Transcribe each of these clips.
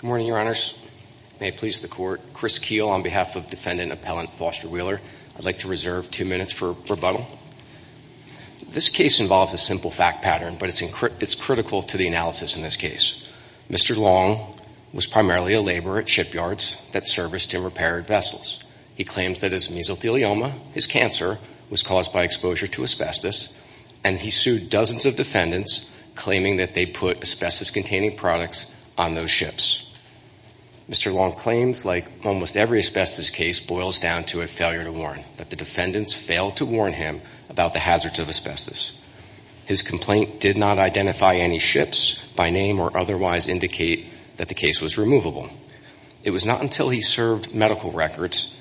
Good morning, Your Honors. May it please the Court. Chris Keel on behalf of Defendant Appellant Foster Wheeler. I'd like to reserve two minutes for rebuttal. This case involves a simple fact pattern, but it's critical to the analysis in this case. Mr. Long was primarily a laborer at shipyards that serviced and repaired vessels. He claims that his mesothelioma, his cancer, was caused by exposure to asbestos, and he sued dozens of defendants, claiming that they put asbestos-containing products on those ships. Mr. Long claims, like almost every asbestos case, boils down to a failure to warn, that the defendants failed to warn him about the hazards of asbestos. His complaint did not identify any ships by name or otherwise indicate that the case was removable. It was not until he served medical records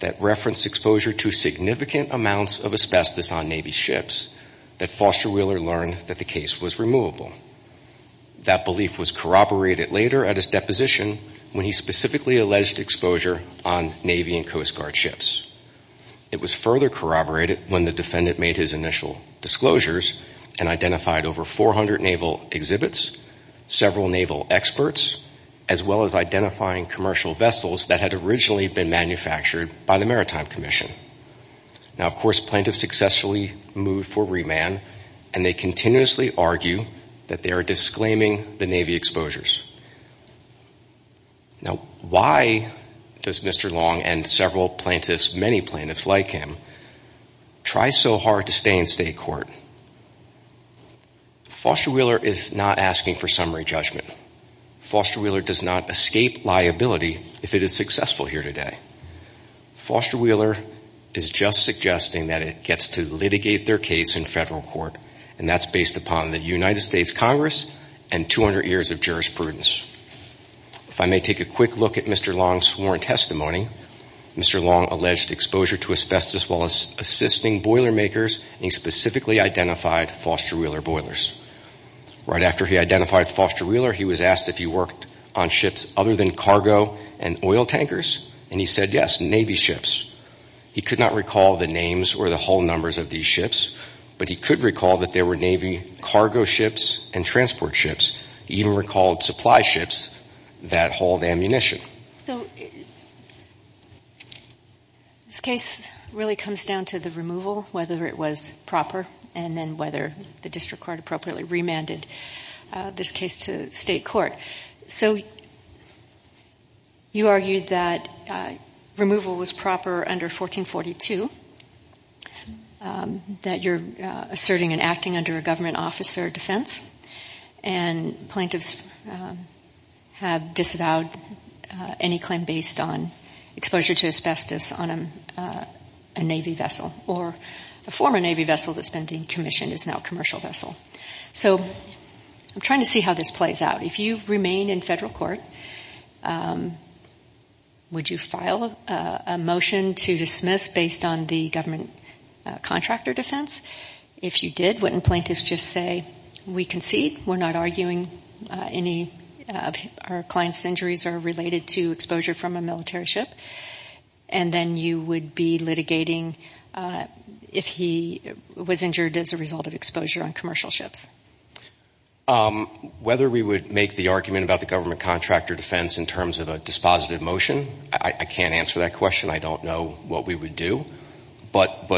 that referenced exposure to significant amounts of asbestos on Navy ships that Foster Wheeler learned that the case was removable. That belief was corroborated later at his deposition when he specifically alleged exposure on Navy and Coast Guard ships. It was further corroborated when the defendant made his initial disclosures and identified over 400 naval exhibits, several naval experts, as well as identifying commercial vessels that had originally been manufactured by the Maritime Commission. Now, of course, plaintiffs successfully moved for remand, and they continuously argue that they are disclaiming the Navy exposures. Now, why does Mr. Long and several plaintiffs, many plaintiffs like him, try so hard to stay in state court? Foster Wheeler is not asking for summary judgment. Foster Wheeler does not escape liability if it is successful here today. Foster Wheeler is just suggesting that it gets to litigate their case in federal court, and that's based upon the United States Congress and 200 years of jurisprudence. If I may take a quick look at Mr. Long's sworn testimony, Mr. Long alleged exposure to asbestos while assisting boiler makers, and he specifically identified Foster Wheeler boilers. Right after he identified Foster Wheeler, he was asked if he worked on ships other than cargo and oil tankers, and he said, yes, Navy ships. He could not recall the names or the hull numbers of these ships, but he could recall that there were Navy cargo ships and transport ships. He even recalled supply ships that hauled ammunition. So this case really comes down to the removal, whether it was proper, and then whether the District Court appropriately remanded this case to state court. So you argued that removal was proper under 1442, that you're asserting and acting under a government officer defense, and plaintiffs have disavowed any claim based on exposure to asbestos on a Navy vessel, or a former Navy vessel that's been decommissioned is now a commercial vessel. So I'm trying to see how this plays out. If you remain in federal court, would you file a motion to dismiss based on the government contractor defense? If you did, wouldn't plaintiffs just say, we concede, we're not arguing any of our client's injuries are related to exposure from a military ship, and then you would be litigating if he was injured as a result of exposure on commercial ships? Whether we would make the argument about the government contractor defense in terms of dispositive motion, I can't answer that question. I don't know what we would do. But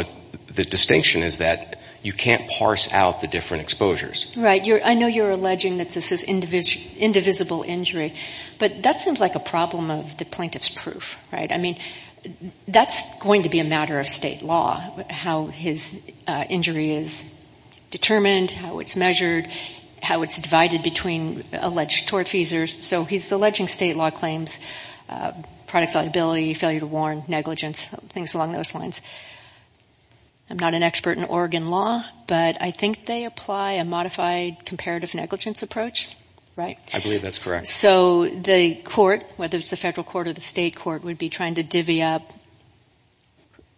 the distinction is that you can't parse out the different exposures. Right. I know you're alleging that this is indivisible injury, but that seems like a problem of the plaintiff's proof. That's going to be a matter of state law, how his injury is determined, how it's measured, how it's divided between alleged tort feasors. So he's alleging state law claims, products liability, failure to warn, negligence, things along those lines. I'm not an expert in Oregon law, but I think they apply a modified comparative negligence approach, right? I believe that's correct. So the court, whether it's the federal court or the state court, would be trying to divvy up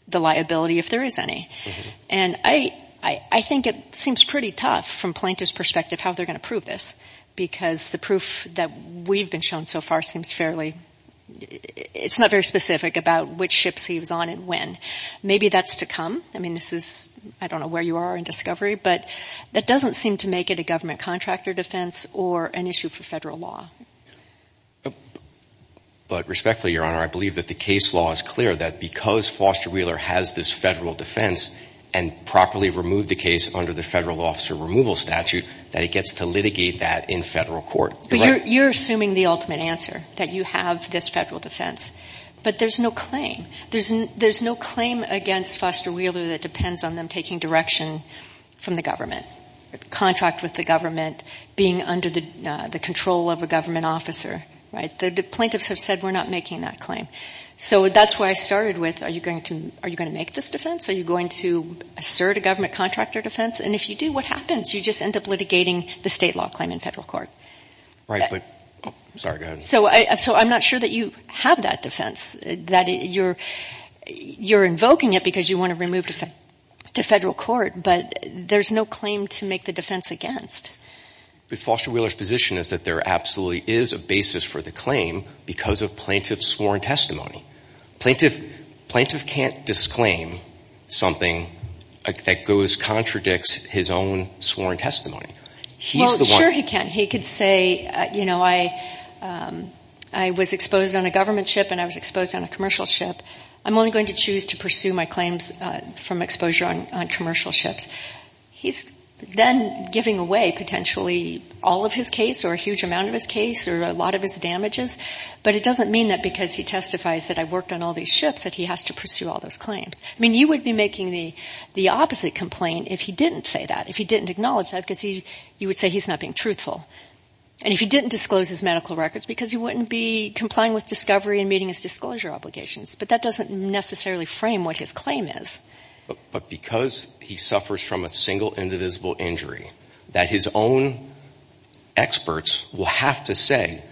the liability if there is any. And I think it seems pretty tough from plaintiff's perspective how they're going to prove this, because the proof that we've been shown so far seems fairly, it's not very specific about which ships he was on and when. Maybe that's to come. I mean, this is, I don't know where you are in discovery, but that doesn't seem to make it a government contractor defense or an issue for federal law. But respectfully, Your Honor, I believe that the case law is clear that because Foster Wheeler has this federal defense and properly removed the case under the federal officer removal statute, that it gets to litigate that in federal court. But you're assuming the ultimate answer, that you have this federal defense. But there's no claim. There's no claim against Foster Wheeler that depends on them taking direction from the government, contract with the government, being under the control of a government officer, right? The plaintiffs have said we're not making that claim. So that's where I started with, are you going to make this defense? Are you going to assert a government contractor defense? And if you do, what happens? You just end up litigating the state law claim in federal court. Right, but, sorry, go ahead. So I'm not sure that you have that defense, that you're invoking it because you want to remove it to federal court, but there's no claim to make the defense against. But Foster Wheeler's position is that there absolutely is a basis for the claim because of plaintiff's sworn testimony. Plaintiff can't disclaim something that goes, contradicts his own sworn testimony. He's the one. Well, sure he can. He could say, you know, I was exposed on a government ship and I was exposed on a commercial ship. I'm only going to choose to pursue my claims from exposure on commercial ships. He's then giving away potentially all of his case or a huge amount of his case or a lot of his damages. But it doesn't mean that because he testifies that I worked on all these ships that he has to pursue all those claims. I mean, you would be making the opposite complaint if he didn't say that, if he didn't acknowledge that, because you would say he's not being truthful. And if he didn't disclose his medical records because he wouldn't be complying with discovery and meeting his disclosure obligations. But that doesn't necessarily frame what his claim is. But because he suffers from a single indivisible injury that his own experts will have to say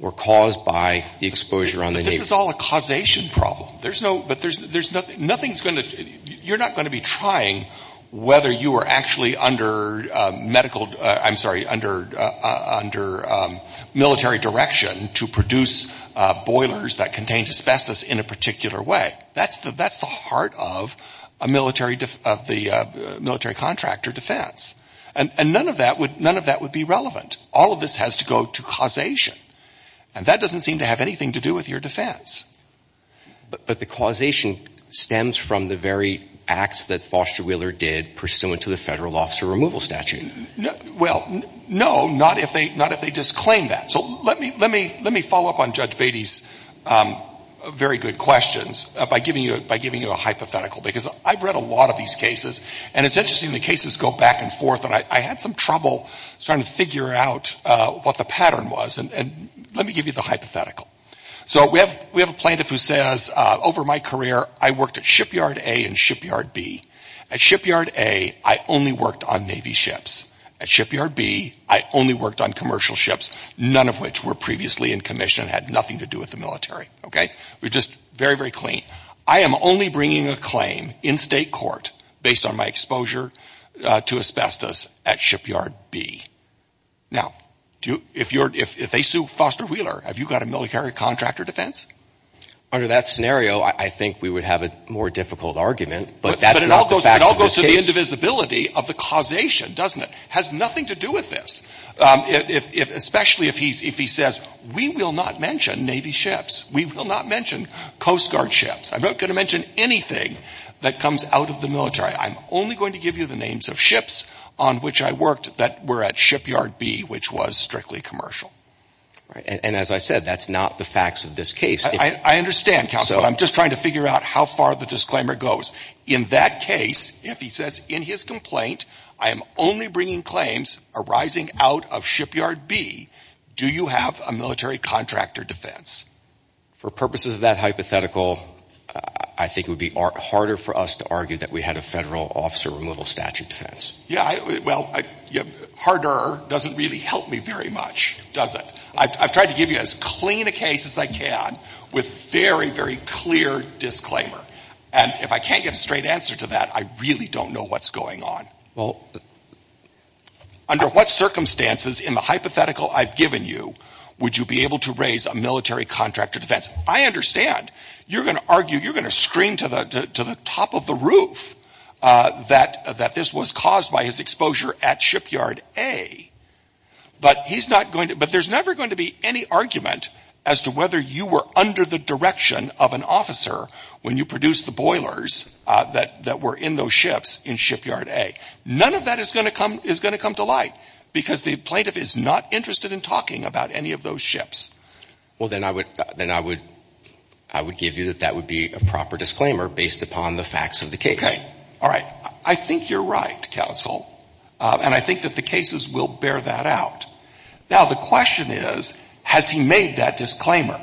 were caused by the exposure on the Navy. This is all a causation problem. There's no, but there's nothing, nothing's going to, you're not going to be trying whether you were actually under medical, I'm sorry, under military direction to produce boilers that contained asbestos in a particular way. That's the, that's the heart of a military, of the military contractor defense. And none of that would, none of that would be relevant. All of this has to go to causation. And that doesn't seem to have anything to do with your defense. But the causation stems from the very acts that Foster Wheeler did pursuant to the Federal Officer Removal Statute. Well, no, not if they, not if they disclaim that. So let me, let me, let me follow up on Judge Beatty's very good questions by giving you, by giving you a hypothetical. Because I've read a lot of these cases. And it's interesting, the cases go back and forth. And I had some trouble starting to figure out what the pattern was. And let me give you the hypothetical. So we have, we have a plaintiff who says, over my career, I worked at Shipyard A and Shipyard B. At Shipyard A, I only worked on Navy ships. At Shipyard B, I only worked on commercial ships, none of which were previously in commission, had nothing to do with the military. Okay? We're just very, very clean. I am only bringing a claim in state court based on my exposure to asbestos at Shipyard B. Now, do, if you're, if they sue Foster Wheeler, have you got a military contractor defense? Under that scenario, I think we would have a more difficult argument. But that's not the fact of this case. But it all goes to the indivisibility of the causation, doesn't it? Has nothing to do with this. If, if, especially if he's, if he says, we will not mention Navy ships. We will not mention Coast Guard ships. I'm not going to mention anything that comes out of the military. I'm only going to give you the names of ships on which I worked that were at Shipyard B, which was strictly commercial. Right. And as I said, that's not the facts of this case. I understand, Counselor, but I'm just trying to figure out how far the disclaimer goes. In that case, if he says in his complaint, I am only bringing claims arising out of Shipyard B, do you have a military contractor defense? For purposes of that hypothetical, I think it would be harder for us to argue that we had a federal officer removal statute defense. Yeah, well, harder doesn't really help me very much, does it? I've tried to give you as clean a case as I can with very, very clear disclaimer. And if I can't get a straight answer to that, I really don't know what's going on. Under what circumstances in the hypothetical I've given you would you be able to raise a military contractor defense? I understand. You're going to argue, you're going to scream to the top of the roof that this was caused by his exposure at Shipyard A, but he's not going to, but there's never going to be any argument as to whether you were under the direction of an officer when you produced the boilers that were in those ships in Shipyard A. None of that is going to come to light because the plaintiff is not interested in talking about any of those ships. Well, then I would give you that that would be a proper disclaimer based upon the facts of the case. Okay. All right. I think you're right, counsel. And I think that the cases will bear that out. Now, the question is, has he made that disclaimer?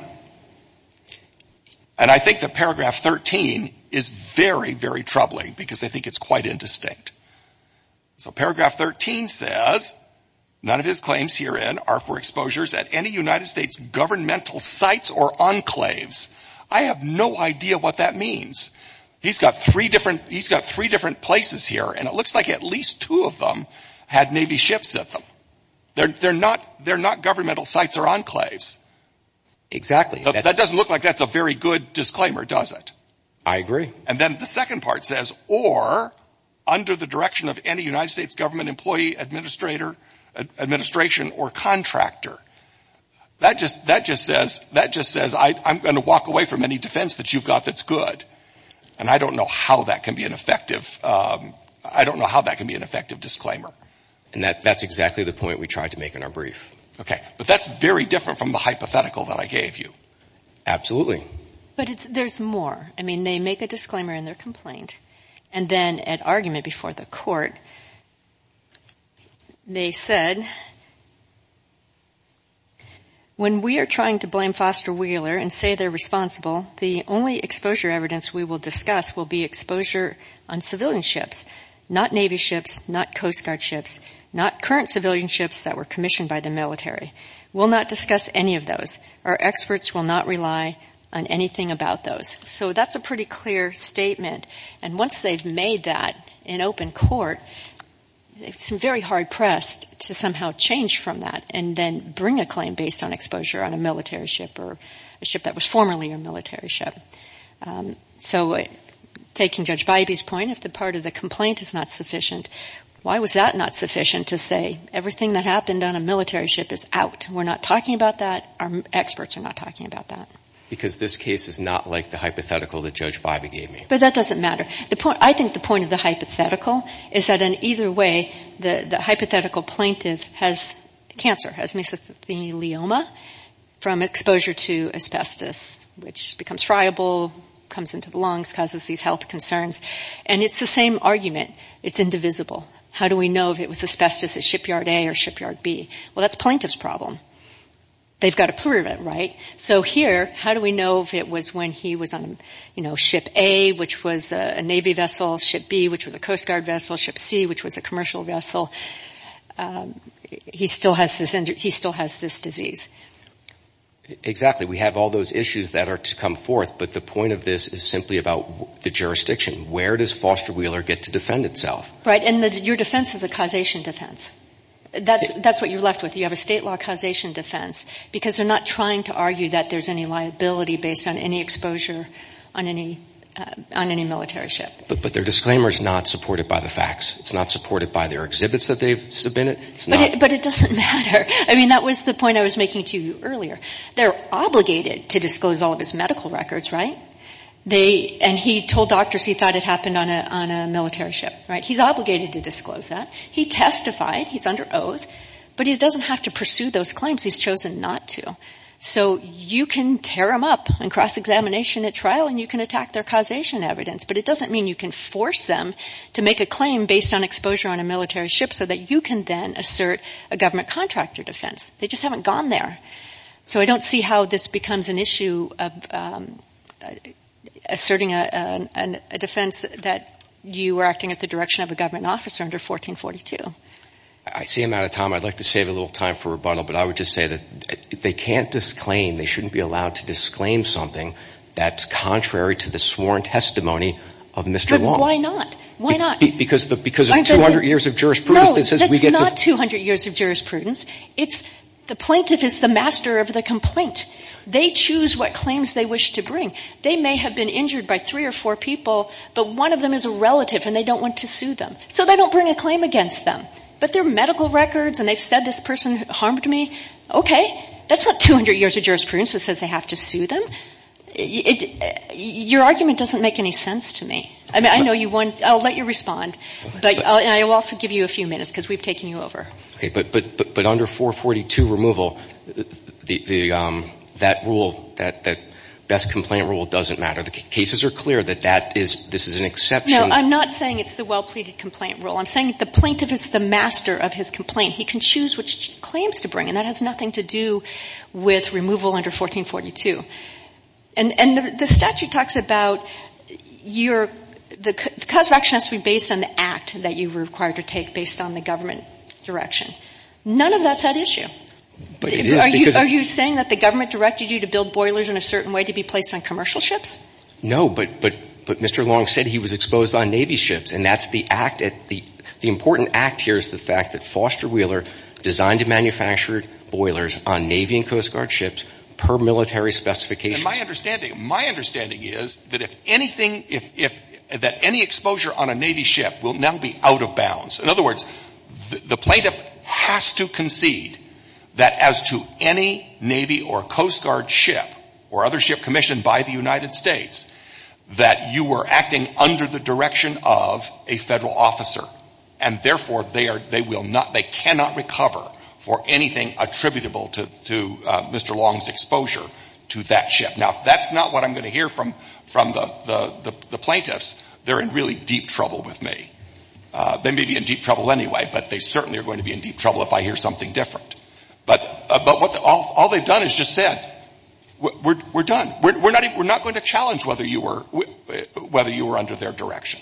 And I think that paragraph 13 is very, very troubling because I think it's quite indistinct. So paragraph 13 says, none of his claims herein are for exposures at any United States governmental sites or enclaves. I have no idea what that means. He's got three different places here, and it looks like at least two of them had Navy ships at them. They're not governmental sites or enclaves. Exactly. That doesn't look like that's a very good disclaimer, does it? I agree. And then the second part says, or under the direction of any United States government employee, administrator, administration, or contractor. That just says, I'm going to walk away from any defense that you've got that's good. And I don't know how that can be an effective disclaimer. And that's exactly the point we tried to make in our brief. Okay. But that's very different from the hypothetical that I gave you. Absolutely. But there's more. I mean, they make a disclaimer in their complaint, and then at argument before the court, they said, when we are trying to blame Foster Wheeler and say they're responsible, the only exposure evidence we will discuss will be exposure on civilian ships, not Navy ships, not Coast Guard ships, not current civilian ships that were commissioned by the military. We'll not discuss any of those. Our experts will not rely on anything about those. So that's a pretty clear statement. And once they've made that in open court, it's very hard-pressed to somehow change from that and then bring a claim based on exposure on a military ship or a ship that was formerly a military ship. So taking Judge Bybee's point, if the part of the complaint is not sufficient, why was that not sufficient to say everything that happened on a military ship is out? We're not talking about that. Our experts are not talking about that. Because this case is not like the hypothetical that Judge Bybee gave me. But that doesn't matter. I think the point of the hypothetical is that in either way, the hypothetical plaintiff has cancer, has mesothelioma from exposure to asbestos, which becomes friable, comes into the lungs, causes these health concerns. And it's the same argument. It's indivisible. How do we know if it was asbestos at shipyard A or shipyard B? Well, that's plaintiff's problem. They've got to prove it, right? So here, how do we know if it was when he was on ship A, which was a Navy vessel, ship B, which was a Coast Guard vessel, ship C, which was a commercial vessel? He still has this disease. Exactly. We have all those issues that are to come forth. But the point of this is simply about the jurisdiction. Where does Foster Wheeler get to defend itself? Right. And your defense is a causation defense. That's what you're left with. You have a state law causation defense because they're not trying to argue that there's any liability based on any exposure on any military ship. But their disclaimer is not supported by the facts. It's not supported by their exhibits that they've submitted. But it doesn't matter. I mean, that was the point I was making to you earlier. They're obligated to disclose all of his medical records, right? And he told doctors he thought it happened on a military ship, right? He's obligated to disclose that. He testified. He's under those claims. He's chosen not to. So you can tear them up in cross-examination at trial and you can attack their causation evidence. But it doesn't mean you can force them to make a claim based on exposure on a military ship so that you can then assert a government contractor defense. They just haven't gone there. So I don't see how this becomes an issue of asserting a defense that you are acting at the direction of a government officer under 1442. I see I'm out of time. I'd like to save a little time for rebuttal. But I would just say that they can't disclaim, they shouldn't be allowed to disclaim something that's contrary to the sworn testimony of Mr. Wong. But why not? Why not? Because of 200 years of jurisprudence that says we get to No, that's not 200 years of jurisprudence. It's the plaintiff is the master of the complaint. They choose what claims they wish to bring. They may have been injured by three or four people but one of them is a relative and they don't want to sue them. So they don't bring a claim against them. But their medical records and they've said this person harmed me, okay, that's not 200 years of jurisprudence that says they have to sue them. Your argument doesn't make any sense to me. I know you want, I'll let you respond. But I will also give you a few minutes because we've taken you over. But under 442 removal, that rule, that best complaint rule doesn't matter. The cases are clear that this is an exception No, I'm not saying it's the well-pleaded complaint rule. I'm saying the plaintiff is the master of his complaint. He can choose which claims to bring and that has nothing to do with removal under 1442. And the statute talks about the cause of action has to be based on the act that you were required to take based on the government's direction. None of that's at issue. But it is because Are you saying that the government directed you to build boilers in a certain way to be placed on commercial ships? No, but, but, but Mr. Long said he was exposed on Navy ships. And that's the act at the, the important act here is the fact that Foster Wheeler designed and manufactured boilers on Navy and Coast Guard ships per military specifications. My understanding, my understanding is that if anything, if, if, that any exposure on a Navy ship will now be out of bounds. In other words, the plaintiff has to concede that as to any Navy or Coast Guard ship or other ship commissioned by the United States, that you were acting under the direction of a federal officer. And therefore, they are, they will not, they cannot recover for anything attributable to, to Mr. Long's exposure to that ship. Now, if that's not what I'm going to hear from, from the, the, the plaintiffs, they're in really deep trouble with me. They may be in deep trouble anyway, but they certainly are going to be in deep trouble if I hear something different. But, but what, all, all they've done is just said, we're, we're, we're done. We're, we're not, we're not going to challenge whether you were, whether you were under their direction.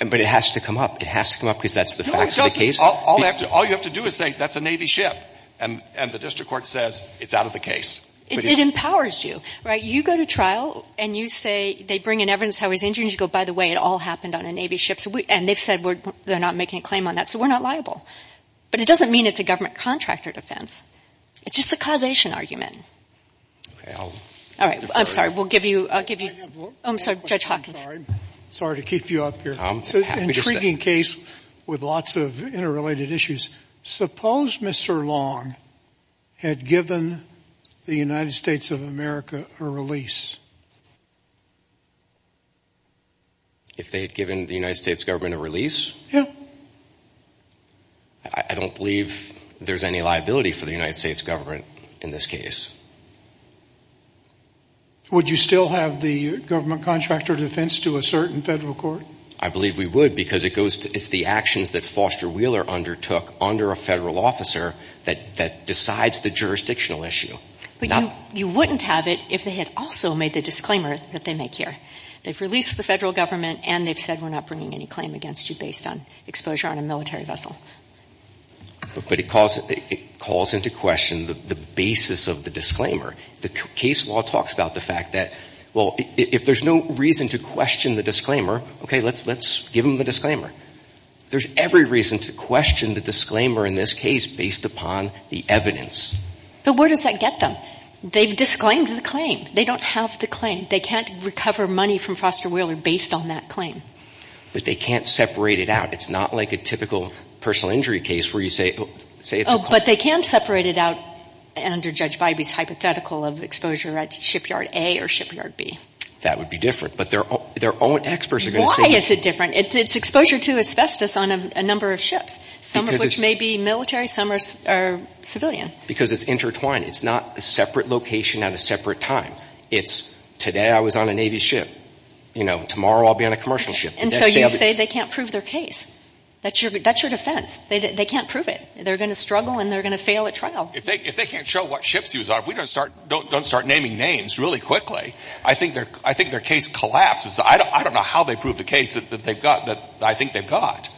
And, but it has to come up. It has to come up because that's the facts of the case. No, it doesn't. All, all you have to, all you have to do is say, that's a Navy ship. And, and the district court says, it's out of the case. It, it empowers you, right? You go to trial and you say, they bring in evidence how he's injured, and you go, by the way, it all happened on a Navy ship. So we, and they've said we're, they're not making a claim on that. So we're not liable. But it doesn't mean it's a government contractor defense. It's just a causation argument. Okay, I'll. All right. I'm sorry. We'll give you, I'll give you. I'm sorry, Judge Hawkins. I'm sorry. Sorry to keep you up here. Intriguing case with lots of interrelated issues. Suppose Mr. Long had given the United States of America a release. If they had given the United States government a release? Yeah. I, I don't believe there's any liability for the United States government in this case. Would you still have the government contractor defense to assert in federal court? I believe we would because it goes to, it's the actions that Foster Wheeler undertook under a federal officer that, that decides the jurisdictional issue. But you, you wouldn't have it if they had also made the disclaimer that they make here. They've released the federal government and they've said we're not bringing any claim against you based on exposure on a military vessel. But it calls, it calls into question the basis of the disclaimer. The case law talks about the fact that, well, if there's no reason to question the disclaimer, okay, let's, let's give them the disclaimer. There's every reason to question the disclaimer in this case based upon the evidence. But where does that get them? They've disclaimed the claim. They don't have the claim. They can't recover money from Foster Wheeler based on that claim. But they can't separate it out. It's not like a typical personal injury case where you say, say it's a claim. But they can separate it out under Judge Bybee's hypothetical of exposure at shipyard A or shipyard B. That would be different. But their own, their own experts are going to say that. Why is it different? It's exposure to asbestos on a number of ships. Some of which may be military, some are civilian. Because it's intertwined. It's not a separate location at a separate time. It's today I was on a Navy ship. You know, tomorrow I'll be on a commercial ship. And so you say they can't prove their case. That's your, that's your defense. They can't prove it. They're going to struggle and they're going to fail at trial. If they, if they can't show what ships he was on, if we don't start, don't start naming names really quickly, I think their, I think their case collapses. I don't know how they prove the case that they've got, that I think they've got.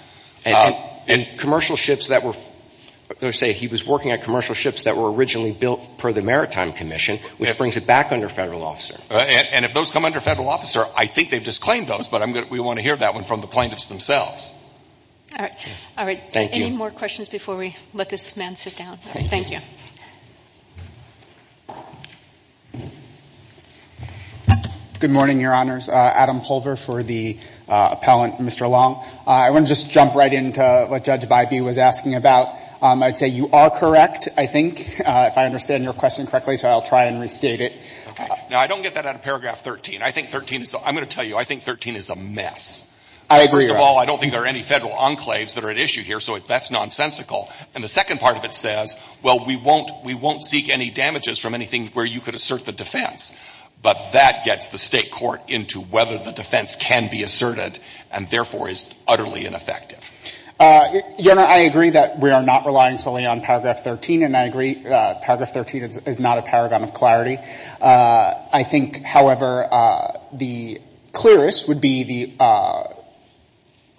And commercial ships that were, let's say he was working at commercial ships that were originally built per the Maritime Commission, which brings it back under federal law, sir. And if those come under federal officer, I think they've disclaimed those, but I'm going to, we want to hear that one from the plaintiffs themselves. All right. All right. Thank you. Any more questions before we let this man sit down? Thank you. Good morning, Your Honors. Adam Pulver for the appellant, Mr. Long. I want to just jump right into what Judge Bybee was asking about. I'd say you are correct, I think, if I understand your question correctly. So I'll try and restate it. Okay. Now, I don't get that out of paragraph 13. I think 13 is, I'm going to tell you, I think 13 is a mess. I agree, Your Honor. First of all, I don't think there are any federal enclaves that are at issue here, so that's nonsensical. And the second part of it says, well, we won't, we won't seek any damages from anything where you could assert the defense. But that gets the state court into whether the defense can be asserted and therefore is utterly ineffective. Your Honor, I agree that we are not relying solely on paragraph 13, and I agree paragraph 13 is not a paragon of clarity. I think, however, the clearest would be the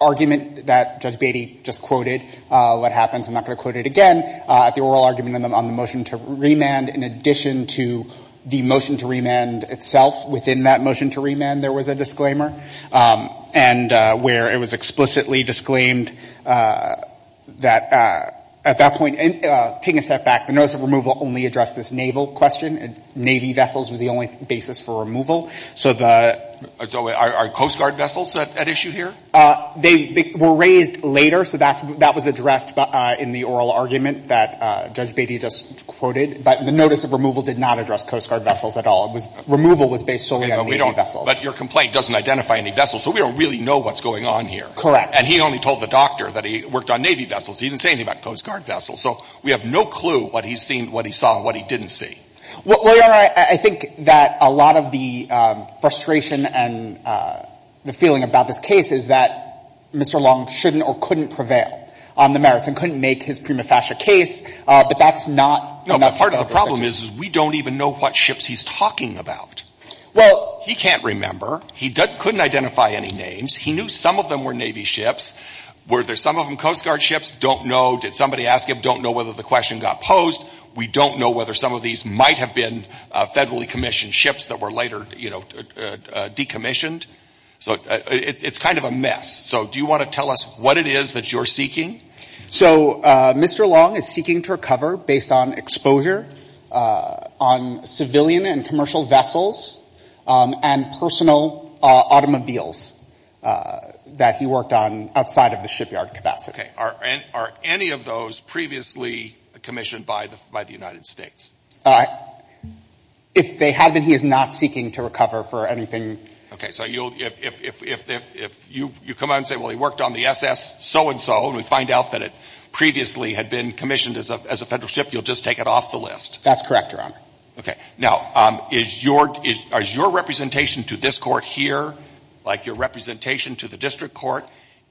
argument that Judge Bybee just quoted, what happens, I'm not going to quote it again, the oral argument on the motion to remand, in addition to the motion to remand itself, within that motion to remand, there was a disclaimer, and where it was explicitly disclaimed that at that point, taking a step back, the notice of removal only addressed this naval question, and navy vessels was the only basis for removal. So are coast guard vessels at issue here? They were raised later, so that was addressed in the oral argument that Judge Bybee just quoted. But the notice of removal did not address coast guard vessels at all. It was, removal was based solely on navy vessels. But your complaint doesn't identify any vessels, so we don't really know what's going on here. Correct. And he only told the doctor that he worked on navy vessels. He didn't say anything about coast guard vessels. So we have no clue what he's seen, what he saw, and what he didn't see. Well, Your Honor, I think that a lot of the frustration and the feeling about this case is that Mr. Long shouldn't or couldn't prevail on the merits and couldn't make his prima facie case, but that's not enough to get a decision. No, but part of the problem is we don't even know what ships he's talking about. Well — He can't remember. He couldn't identify any names. He knew some of them were navy ships. Were there some of them coast guard ships? Don't know. Did somebody ask him? Don't know whether the question got posed. We don't know whether some of these might have been federally commissioned ships that were later, you know, decommissioned. So it's kind of a mess. So do you want to tell us what it is that you're seeking? So Mr. Long is seeking to recover based on exposure on civilian and commercial vessels and personal automobiles that he worked on outside of the shipyard capacity. Okay. Are any of those previously commissioned by the United States? If they have been, he is not seeking to recover for anything — Okay. So you'll — if you come out and say, well, he worked on the SS so-and-so, and we find out that it previously had been commissioned as a Federal ship, you'll just take it off the list? That's correct, Your Honor. Okay. Now, is your — is your representation to this Court here, like your representation to the District Court,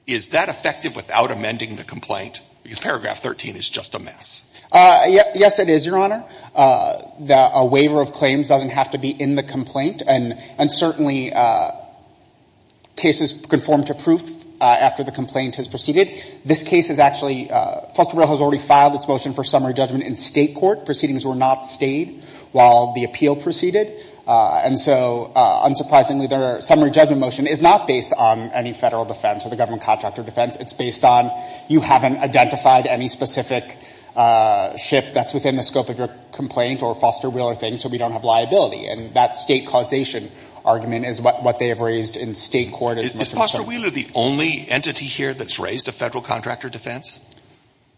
is that effective without amending the complaint? Because paragraph 13 is just a mess. Yes, it is, Your Honor. A waiver of claims doesn't have to be in the complaint, and certainly cases conform to proof after the complaint has proceeded. This case is actually — Fosterville has already filed its motion for summary judgment in state court. Proceedings were not stayed while the appeal proceeded. And so, unsurprisingly, their summary judgment motion is not based on any Federal defense or the government contractor defense. It's based on — you haven't identified any specific ship that's within the scope of your complaint or Fosterville or things, so we don't have liability. And that state causation argument is what they have raised in state court as — Is Fosterville the only entity here that's raised a Federal contractor defense?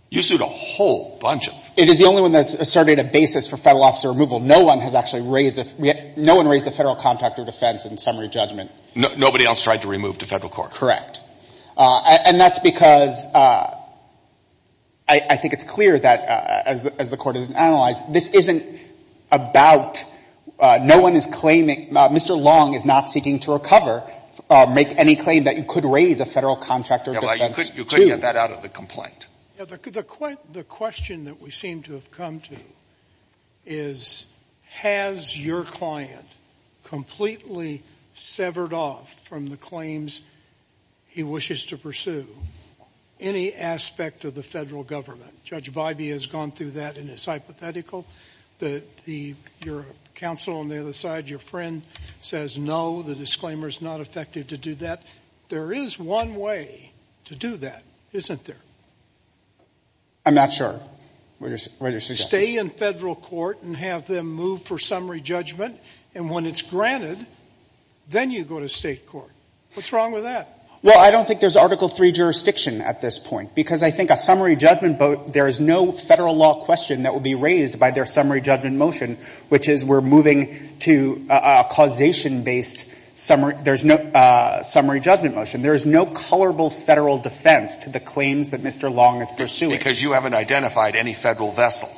You sued a whole bunch of — It is the only one that's asserted a basis for Federal officer removal. No one has actually raised a — no one raised a Federal contractor defense in summary judgment. Nobody else tried to remove to Federal court? Correct. And that's because — I think it's clear that, as the Court has analyzed, this isn't about — no one is claiming — Mr. Long is not seeking to recover — make any claim that you could raise a Federal contractor defense, too. Yeah, well, you couldn't get that out of the complaint. Yeah, the question that we seem to have come to is, has your client completely severed off from the claims he wishes to pursue any aspect of the Federal government? Judge Bybee has gone through that, and it's hypothetical. Your counsel on the other side, your friend, says, no, the disclaimer is not effective to do that. There is one way to do that, isn't there? I'm not sure what you're suggesting. Stay in Federal court and have them move for summary judgment, and when it's granted, then you go to state court. What's wrong with that? Well, I don't think there's Article III jurisdiction at this point, because I think a summary judgment vote — there is no Federal law question that would be raised by their summary judgment motion, which is, we're moving to a causation-based summary — there's no colorable Federal defense to the claims that Mr. Long is pursuing. Because you haven't identified any Federal vessel.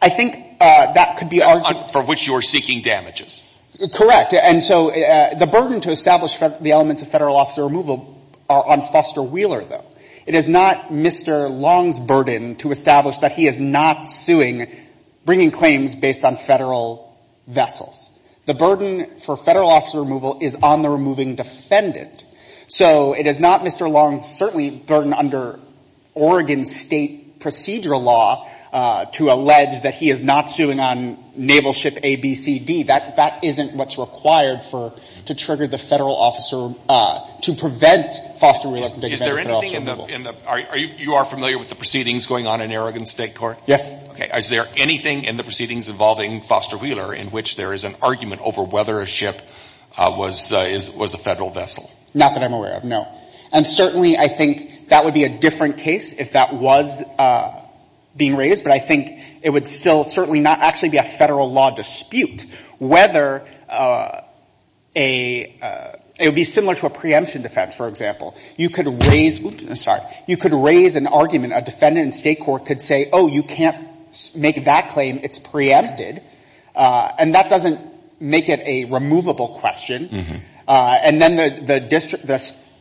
I think that could be argued — For which you're seeking damages. Correct. And so the burden to establish the elements of Federal officer removal are on Foster Wheeler, though. It is not Mr. Long's burden to establish that he is not suing — bringing claims based on Federal vessels. The burden for Federal officer removal is on the removing defendant. So it is not Mr. Long's, certainly, burden under Oregon state procedural law to allege that he is not suing on naval ship ABCD. That isn't what's required for — to trigger the Federal officer — to prevent Foster Wheeler from taking — Is there anything in the — are you — you are familiar with the proceedings going on in Oregon state court? Yes. Okay. Is there anything in the proceedings involving Foster Wheeler in which there is argument over whether a ship was a Federal vessel? Not that I'm aware of, no. And certainly, I think that would be a different case if that was being raised. But I think it would still certainly not actually be a Federal law dispute whether a — it would be similar to a preemption defense, for example. You could raise — sorry — you could raise an argument. A defendant in state court could say, oh, you can't make that claim. It's preempted. And that doesn't make it a removable question. And then the district — the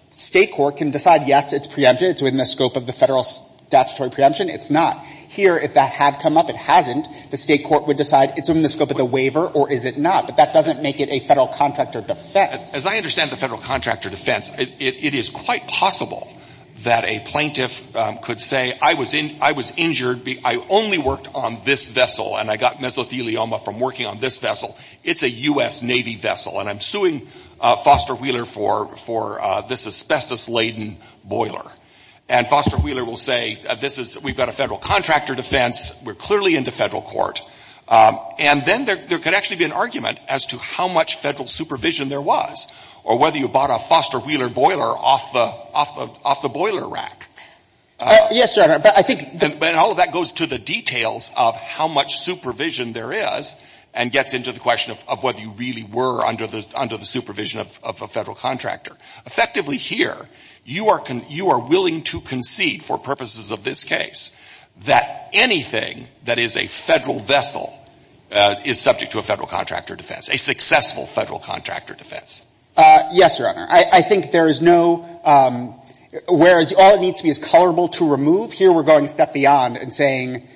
state court can decide, yes, it's preempted. It's within the scope of the Federal statutory preemption. It's not. Here, if that had come up, it hasn't, the state court would decide it's within the scope of the waiver or is it not. But that doesn't make it a Federal contractor defense. As I understand the Federal contractor defense, it is quite possible that a plaintiff could say, I was in — I was injured. I only worked on this vessel, and I got mesothelioma from working on this vessel. It's a U.S. Navy vessel, and I'm suing Foster Wheeler for — for this asbestos-laden boiler. And Foster Wheeler will say, this is — we've got a Federal contractor defense. We're clearly in the Federal court. And then there could actually be an argument as to how much Federal supervision there was or whether you bought a Foster Wheeler boiler off the — off the boiler rack. Yes, Your Honor. But I think — But all of that goes to the details of how much supervision there is and gets into the question of whether you really were under the — under the supervision of a Federal contractor. Effectively here, you are — you are willing to concede for purposes of this case that anything that is a Federal vessel is subject to a Federal contractor defense, a successful Federal contractor defense. Yes, Your Honor. I — I think there is no — whereas all it needs to be is colorable to remove, here we're going a step beyond and saying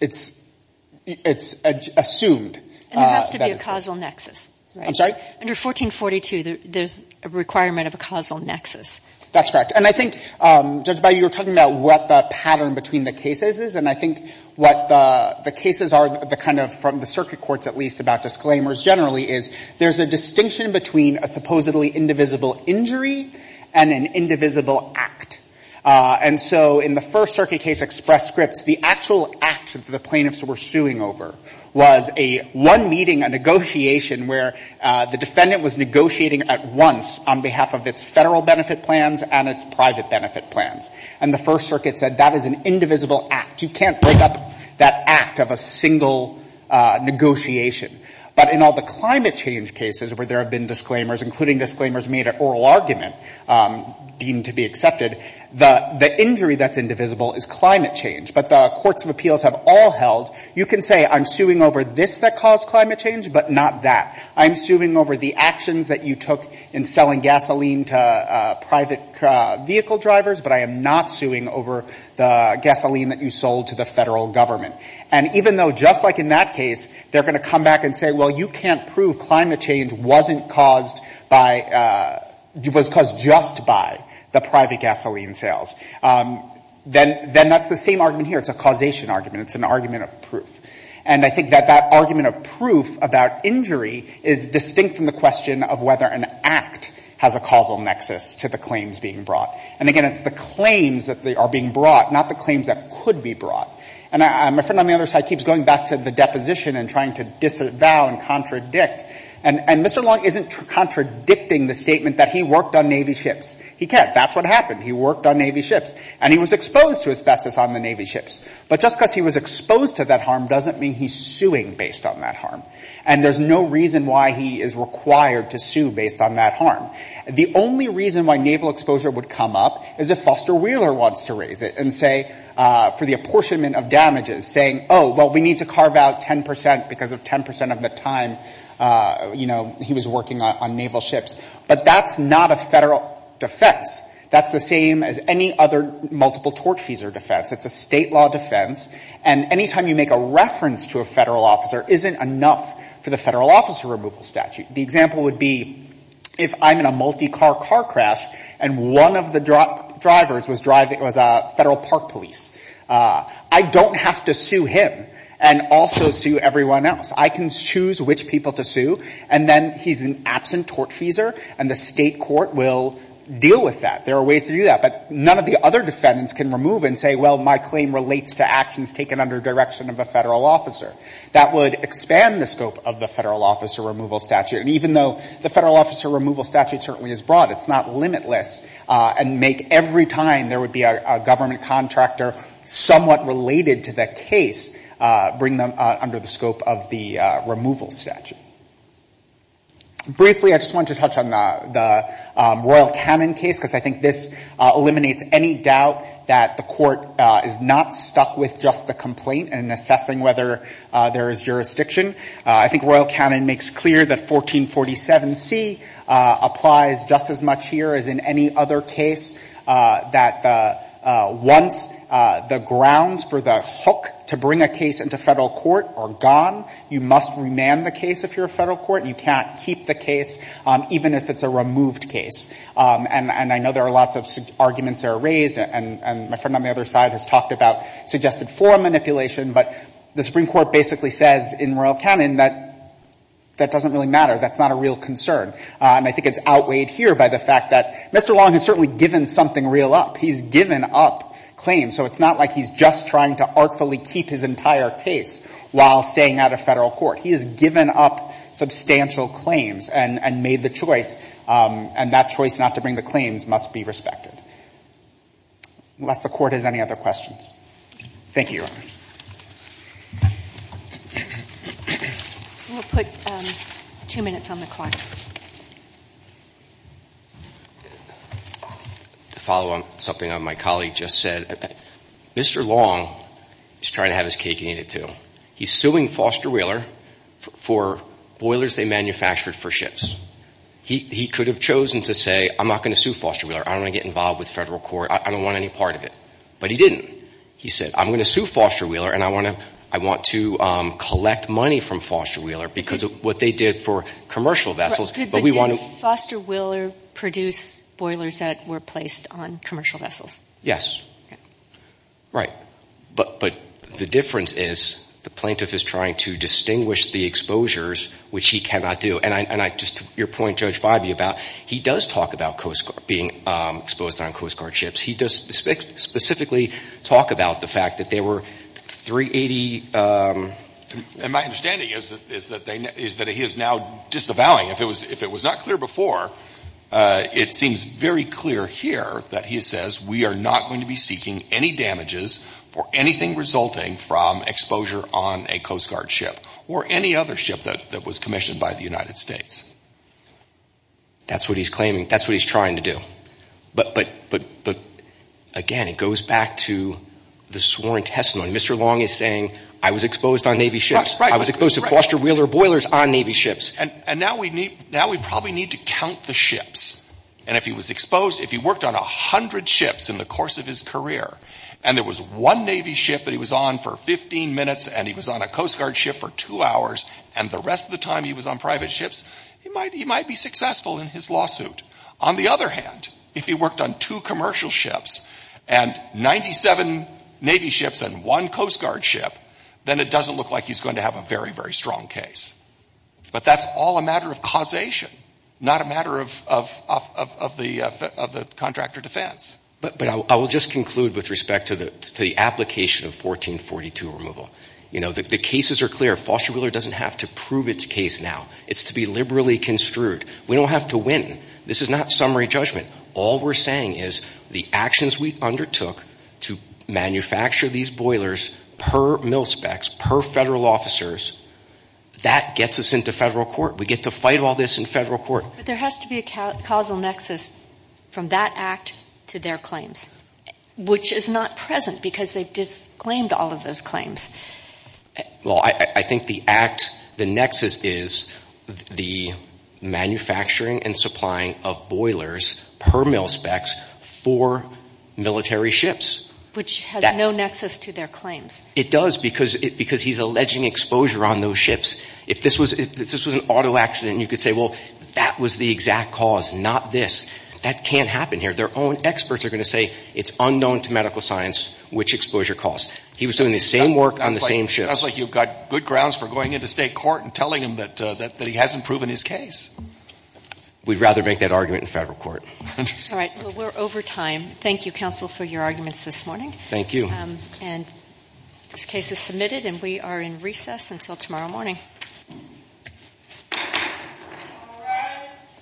it's — it's assumed. And there has to be a causal nexus, right? I'm sorry? Under 1442, there's a requirement of a causal nexus. That's correct. And I think, Judge Baillie, you were talking about what the pattern between the cases is, and I think what the — the cases are, the kind of — from the circuit courts, at least, about disclaimers generally is there's a distinction between a supposedly indivisible injury and an indivisible act. And so in the First Circuit case, Express Scripts, the actual act that the plaintiffs were suing over was a — one meeting, a negotiation where the defendant was negotiating at once on behalf of its Federal benefit plans and its private benefit plans. And the First Circuit said that is an indivisible act. You can't break up that act of a single negotiation. But in all the climate change cases where there have been disclaimers, including disclaimers made at oral argument deemed to be accepted, the — the injury that's indivisible is climate change. But the courts of appeals have all held — you can say I'm suing over this that caused climate change, but not that. I'm suing over the actions that you took in selling gasoline to private vehicle drivers, but I am not suing over the gasoline that you sold to the Federal Government. And even though, just like in that case, they're going to come back and say, well, you can't prove climate change wasn't caused by — was caused just by the private gasoline sales, then that's the same argument here. It's a causation argument. It's an argument of proof. And I think that that argument of proof about injury is distinct from the question of whether an act has a causal nexus to the claims being brought. And again, it's the claims that are being brought, not the claims that could be brought. And my friend on the other side keeps going back to the deposition and trying to disavow and contradict. And Mr. Long isn't contradicting the statement that he worked on Navy ships. He can't. That's what happened. He worked on Navy ships. And he was exposed to asbestos on the Navy ships. But just because he was exposed to that harm doesn't mean he's suing based on that harm. And there's no reason why he is required to sue based on that harm. The only reason why naval exposure would come up is if Foster Wheeler wants to raise it and say, for the apportionment of damages, saying, oh, well, we need to carve out 10% because of 10% of the time he was working on naval ships. But that's not a federal defense. That's the same as any other multiple tort fees or defense. It's a state law defense. And any time you make a reference to a federal officer isn't enough for the federal officer removal statute. The example would be if I'm in a multi-car car crash and one of the drivers was a federal park police. I don't have to sue him and also sue everyone else. I can choose which people to sue. And then he's an absent tort feeser. And the state court will deal with that. There are ways to do that. But none of the other defendants can remove and say, well, my claim relates to actions taken under direction of a federal officer. That would expand the scope of the federal officer removal statute. And even though the federal officer removal statute certainly is broad, it's not limitless and make every time there would be a government contractor somewhat related to the case, bring them under the scope of the removal statute. Briefly, I just want to touch on the Royal Cannon case because I think this eliminates any doubt that the court is not stuck with just the complaint and assessing whether there is jurisdiction. I think Royal Cannon makes clear that 1447C applies just as much here as in any other case that once the grounds for the hook to bring a case into federal court are gone, you must remand the case if you're a federal court. You can't keep the case even if it's a removed case. And I know there are lots of arguments that are raised. And my friend on the other side has talked about suggested forum manipulation. But the Supreme Court basically says in Royal Cannon that that doesn't really matter. That's not a real concern. And I think it's outweighed here by the fact that Mr. Long has certainly given something real up. He's given up claims. So it's not like he's just trying to artfully keep his entire case while staying out of federal court. He has given up substantial claims and made the choice. And that choice not to bring the claims must be respected, unless the court has any other questions. Thank you. I'm going to put two minutes on the clock. To follow on something my colleague just said, Mr. Long is trying to have his cake and eat it too. He's suing Foster Wheeler for boilers they manufactured for ships. He could have chosen to say, I'm not going to sue Foster Wheeler. I don't want to get involved with federal court. I don't want any part of it. But he didn't. He said, I'm going to sue Foster Wheeler, and I want to collect money from Foster Wheeler because of what they did for commercial vessels. But did Foster Wheeler produce boilers that were placed on commercial vessels? Yes. Right. But the difference is the plaintiff is trying to distinguish the exposures, which he cannot do. And I just your point, Judge Bivey, about he does talk about Coast Guard being exposed on Coast Guard ships. He does specifically talk about the fact that there were 380. My understanding is that he is now disavowing. If it was not clear before, it seems very clear here that he says we are not going to be seeking any damages for anything resulting from exposure on a Coast Guard ship or any other ship that was commissioned by the United States. That's what he's claiming. That's what he's trying to do. But again, it goes back to the sworn testimony. Mr. Long is saying I was exposed on Navy ships. I was exposed to Foster Wheeler boilers on Navy ships. And now we probably need to count the ships. And if he was exposed, if he worked on 100 ships in the course of his career, and there was one Navy ship that he was on for 15 minutes, and he was on a Coast Guard ship for two hours, and the rest of the time he was on private ships, he might be successful in his lawsuit. On the other hand, if he worked on two commercial ships and 97 Navy ships and one Coast Guard ship, then it doesn't look like he's going to have a very, very strong case. But that's all a matter of causation, not a matter of the contractor defense. But I will just conclude with respect to the application of 1442 removal. You know, the cases are clear. Foster Wheeler doesn't have to prove its case now. It's to be liberally construed. We don't have to win. This is not summary judgment. All we're saying is the actions we undertook to manufacture these boilers per mil specs, per federal officers, that gets us into federal court. We get to fight all this in federal court. But there has to be a causal nexus from that act to their claims, which is not present because they've disclaimed all of those claims. Well, I think the act, the nexus is the manufacturing and supplying of boilers per mil specs for military ships. Which has no nexus to their claims. It does because he's alleging exposure on those ships. If this was an auto accident, you could say, well, that was the exact cause, not this. That can't happen here. Their own experts are going to say it's unknown to medical science which exposure caused. He was doing the same work on the same ship. Sounds like you've got good grounds for going into state court and telling him that he hasn't proven his case. We'd rather make that argument in federal court. All right. We're over time. Thank you, counsel, for your arguments this morning. Thank you. And this case is submitted and we are in recess until tomorrow morning.